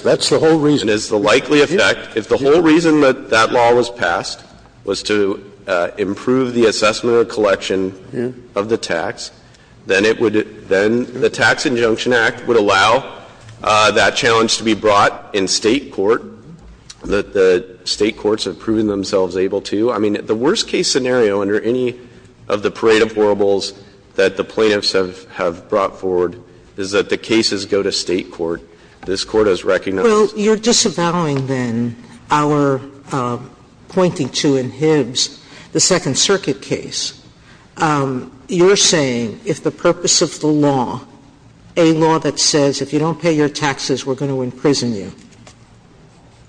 that's the whole reason. Yes, it is. That's the whole reason. And it's the likely effect. If the whole reason that that law was passed was to improve the assessment or collection of the tax, then it would been the Tax Injunction Act would allow that challenge to be brought in State court, that the State courts have proven themselves able to. I mean, the worst-case scenario under any of the parade of horribles that the plaintiffs have brought forward is that the cases go to State court. This Court has recognized that. Well, you're disavowing, then, our pointing to in Hibbs the Second Circuit case. You're saying if the purpose of the law, a law that says if you don't pay your taxes, we're going to imprison you,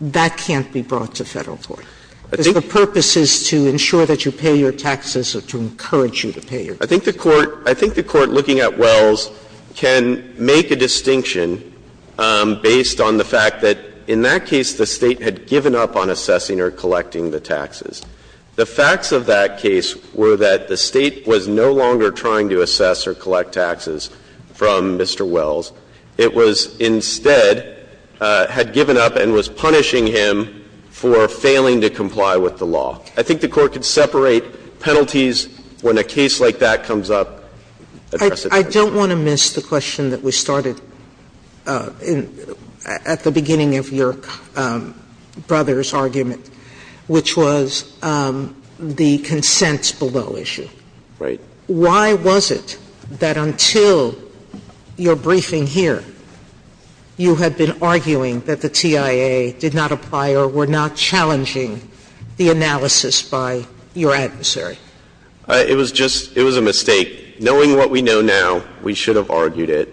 that can't be brought to Federal court. I think the purpose is to ensure that you pay your taxes or to encourage you to pay your taxes. I think the Court, I think the Court looking at Wells can make a distinction based on the fact that in that case the State had given up on assessing or collecting the taxes. The facts of that case were that the State was no longer trying to assess or collect taxes from Mr. Wells. It was instead had given up and was punishing him for failing to comply with the law. I think the Court could separate penalties when a case like that comes up. Sotomayor, I don't want to miss the question that we started at the beginning of your brother's argument, which was the consents below issue. Right. Why was it that until your briefing here you had been arguing that the TIA did not apply or were not challenging the analysis by your adversary? It was just, it was a mistake. Knowing what we know now, we should have argued it.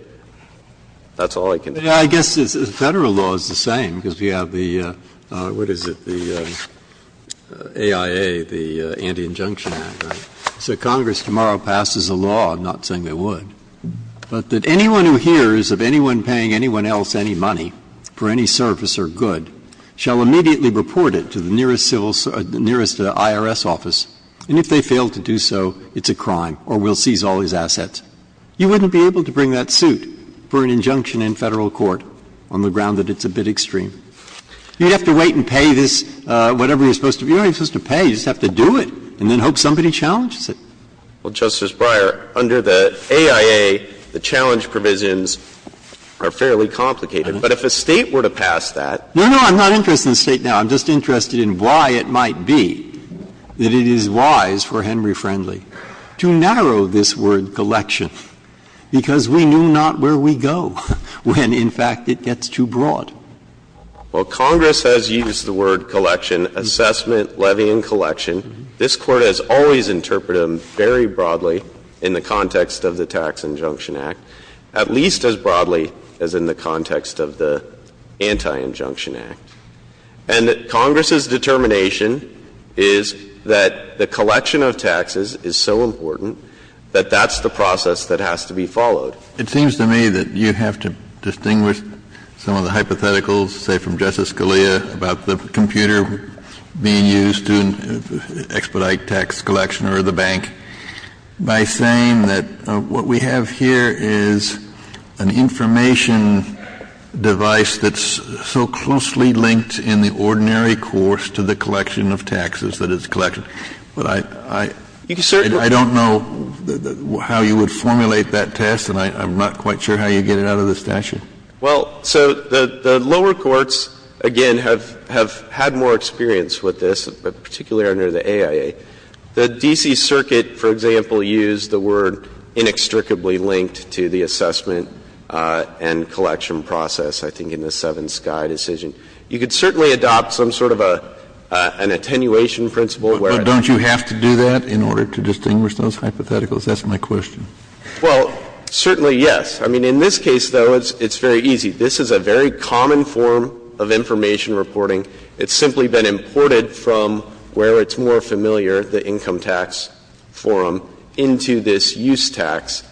That's all I can say. I guess Federal law is the same because we have the, what is it, the AIA, the Anti-Injunction Act. So Congress tomorrow passes a law, I'm not saying they would, but that anyone who hears of anyone paying anyone else any money for any service or good shall immediately report it to the nearest civil, nearest IRS office, and if they fail to do so, it's a crime or we'll seize all his assets. You wouldn't be able to bring that suit for an injunction in Federal court on the ground that it's a bit extreme. You'd have to wait and pay this, whatever you're supposed to be. You're not supposed to pay, you just have to do it and then hope somebody challenges it. Well, Justice Breyer, under the AIA, the challenge provisions are fairly complicated. But if a State were to pass that. No, no, I'm not interested in the State now. I'm just interested in why it might be that it is wise for Henry Friendly to narrow this word, collection, because we knew not where we go when, in fact, it gets too broad. Well, Congress has used the word collection, assessment, levy, and collection. This Court has always interpreted them very broadly in the context of the Tax Injunction Act, at least as broadly as in the context of the Anti-Injunction Act. And Congress's determination is that the collection of taxes is so important that that's the process that has to be followed. It seems to me that you have to distinguish some of the hypotheticals, say, from Justice Scalia about the computer being used to expedite tax collection or the bank by saying that what we have here is an information device that's so closely linked in the ordinary course to the collection of taxes that is collection. But I don't know how you would formulate that test, and I know it's not going to be easy, and I'm not quite sure how you get it out of the statute. Well, so the lower courts, again, have had more experience with this, particularly under the AIA. The D.C. Circuit, for example, used the word inextricably linked to the assessment and collection process, I think, in the Seven Sky decision. You could certainly adopt some sort of an attenuation principle where it's not. But don't you have to do that in order to distinguish those hypotheticals? That's my question. Well, certainly, yes. I mean, in this case, though, it's very easy. This is a very common form of information reporting. It's simply been imported from where it's more familiar, the income tax forum, into this use tax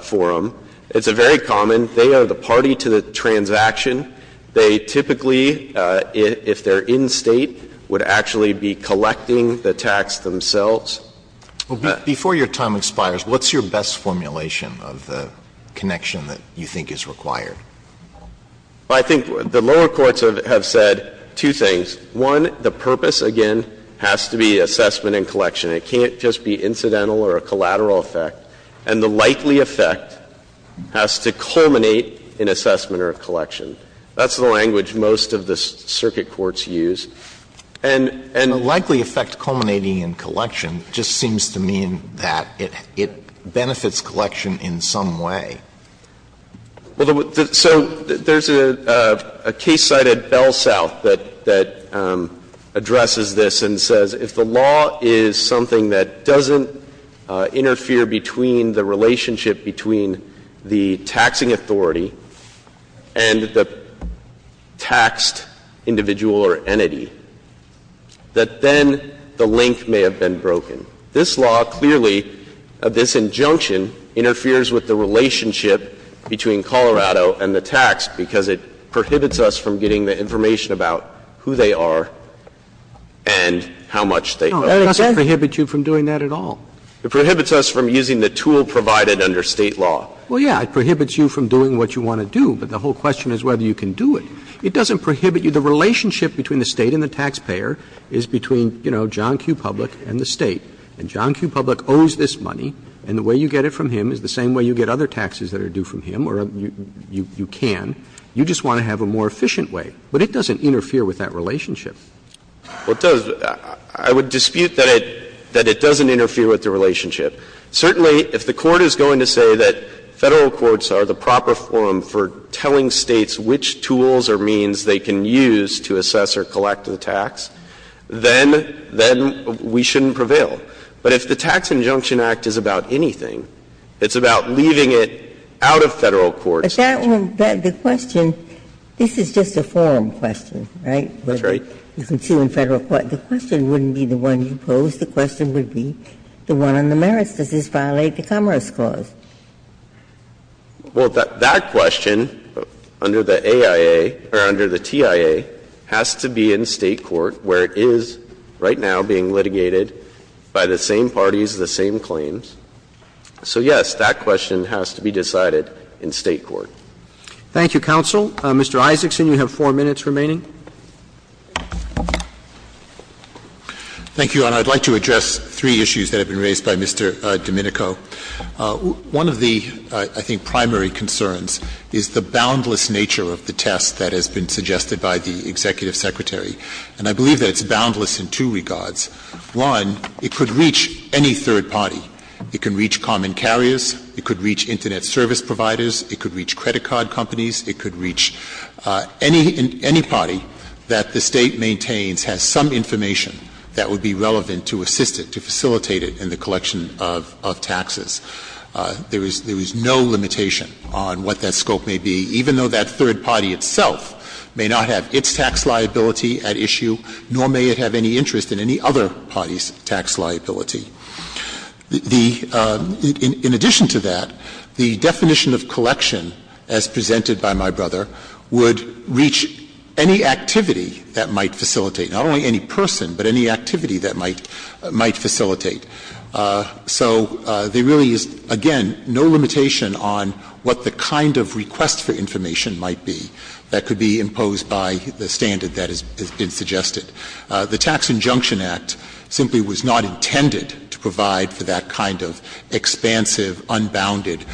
forum. It's a very common. They are the party to the transaction. They typically, if they're in State, would actually be collecting the tax themselves. Before your time expires, what's your best formulation of the connection that you think is required? I think the lower courts have said two things. One, the purpose, again, has to be assessment and collection. It can't just be incidental or a collateral effect. And the likely effect has to culminate in assessment or collection. That's the language most of the circuit courts use. And the likely effect culminating in collection just seems to mean that it benefits collection in some way. So there's a case cited at Bell South that addresses this and says if the law is something that doesn't interfere between the relationship between the taxing authority and the taxed individual or entity, that then the link may have been broken. This law clearly, this injunction, interferes with the relationship between Colorado and the tax because it prohibits us from getting the information about who they are and how much they owe. No, it doesn't prohibit you from doing that at all. It prohibits us from using the tool provided under State law. Well, yes, it prohibits you from doing what you want to do, but the whole question is whether you can do it. It doesn't prohibit you. The relationship between the State and the taxpayer is between, you know, John Q. Public and the State. And John Q. Public owes this money, and the way you get it from him is the same way you get other taxes that are due from him, or you can. You just want to have a more efficient way. But it doesn't interfere with that relationship. Well, it does. I would dispute that it doesn't interfere with the relationship. Certainly, if the Court is going to say that Federal courts are the proper forum for telling States which tools or means they can use to assess or collect the tax, then, then we shouldn't prevail. But if the Tax Injunction Act is about anything, it's about leaving it out of Federal courts. Ginsburg. But that one, the question, this is just a forum question, right? That's right. You can see in Federal court, the question wouldn't be the one you pose. The question would be the one on the merits. Does this violate the Commerce Clause? Well, that question, under the AIA, or under the TIA, has to be in State court, where it is right now being litigated by the same parties, the same claims. So, yes, that question has to be decided in State court. Thank you, counsel. Mr. Isaacson, you have four minutes remaining. Thank you, Your Honor. I'd like to address three issues that have been raised by Mr. Domenico. One of the, I think, primary concerns is the boundless nature of the test that has been suggested by the Executive Secretary. And I believe that it's boundless in two regards. One, it could reach any third party. It can reach common carriers. It could reach Internet service providers. It could reach credit card companies. It could reach any party that the State maintains has some information that would be relevant to assist it, to facilitate it in the collection of taxes. There is no limitation on what that scope may be, even though that third party itself may not have its tax liability at issue, nor may it have any interest in any other party's tax liability. In addition to that, the definition of collection, as presented by my brother, would reach any activity that might facilitate, not only any person, but any activity that might facilitate. So there really is, again, no limitation on what the kind of request for information might be that could be imposed by the standard that has been suggested. The Tax Injunction Act simply was not intended to provide for that kind of expansive, unbounded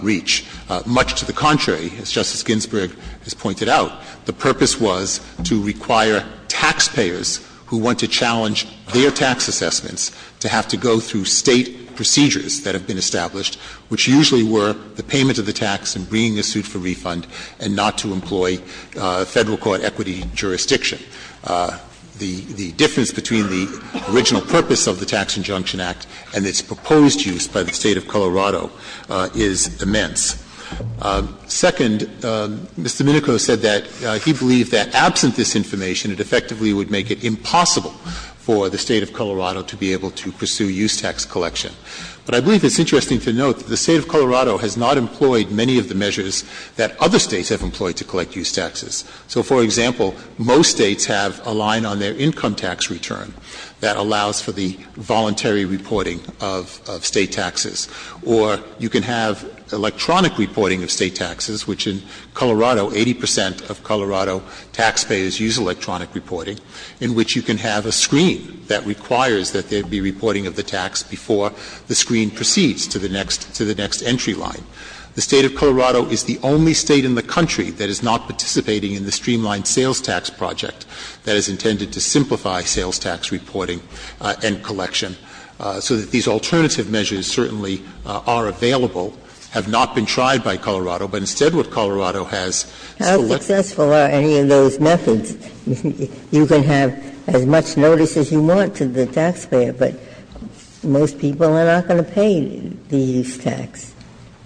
reach. Much to the contrary, as Justice Ginsburg has pointed out, the purpose was to require taxpayers who want to challenge their tax assessments to have to go through State procedures that have been established, which usually were the payment of the tax and the difference between the original purpose of the Tax Injunction Act and its proposed use by the State of Colorado is immense. Second, Mr. Minico said that he believed that absent this information, it effectively would make it impossible for the State of Colorado to be able to pursue use tax collection. But I believe it's interesting to note that the State of Colorado has not employed many of the measures that other States have employed to collect use taxes. So, for example, most States have a line on their income tax return that allows for the voluntary reporting of State taxes. Or you can have electronic reporting of State taxes, which in Colorado, 80 percent of Colorado taxpayers use electronic reporting, in which you can have a screen that requires that there be reporting of the tax before the screen proceeds to the next entry line. The State of Colorado is the only State in the country that is not participating in the streamlined sales tax project that is intended to simplify sales tax reporting and collection, so that these alternative measures certainly are available, have not been tried by Colorado, but instead what Colorado has selected. Ginsburg-Miller How successful are any of those methods? You can have as much notice as you want to the taxpayer, but most people are not going to pay these taxes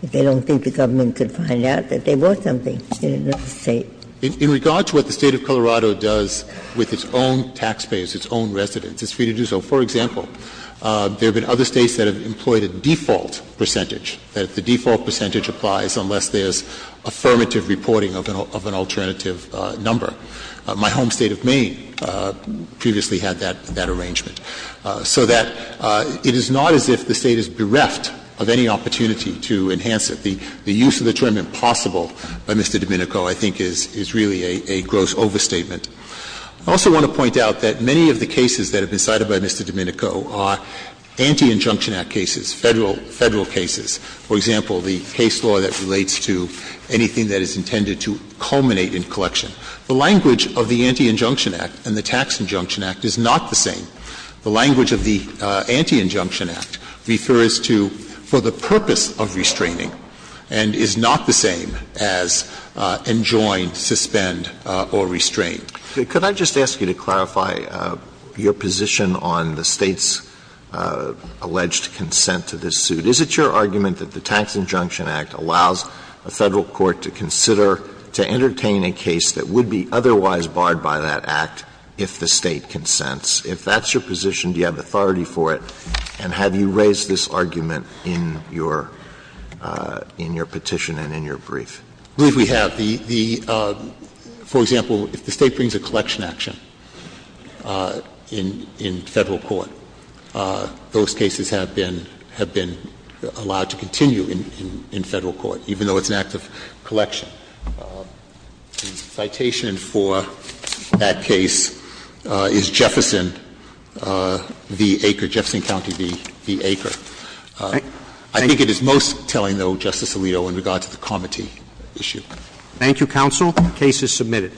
if they don't think the government could find out that they were something in another State. In regard to what the State of Colorado does with its own taxpayers, its own residents, it's free to do so. For example, there have been other States that have employed a default percentage, that the default percentage applies unless there's affirmative reporting of an alternative number. My home State of Maine previously had that arrangement. So that it is not as if the State is bereft of any opportunity to enhance it. The use of the term impossible by Mr. Domenico, I think, is really a gross overstatement. I also want to point out that many of the cases that have been cited by Mr. Domenico are Anti-Injunction Act cases, Federal cases. For example, the case law that relates to anything that is intended to culminate in collection. The language of the Anti-Injunction Act and the Tax Injunction Act is not the same. The language of the Anti-Injunction Act refers to for the purpose of restraining and is not the same as enjoin, suspend, or restrain. Alitoson Could I just ask you to clarify your position on the State's alleged consent to this suit? Is it your argument that the Tax Injunction Act allows a Federal court to consider to entertain a case that would be otherwise barred by that act if the State consents? If that's your position, do you have authority for it? And have you raised this argument in your petition and in your brief? Verrilli, I believe we have. The — for example, if the State brings a collection action in Federal court, those cases have been allowed to continue in Federal court, even though it's an act of collection. The citation for that case is Jefferson v. Aker, Jefferson County v. Aker. I think it is most telling, though, Justice Alito, in regard to the comity issue. Thank you, counsel. The case is submitted.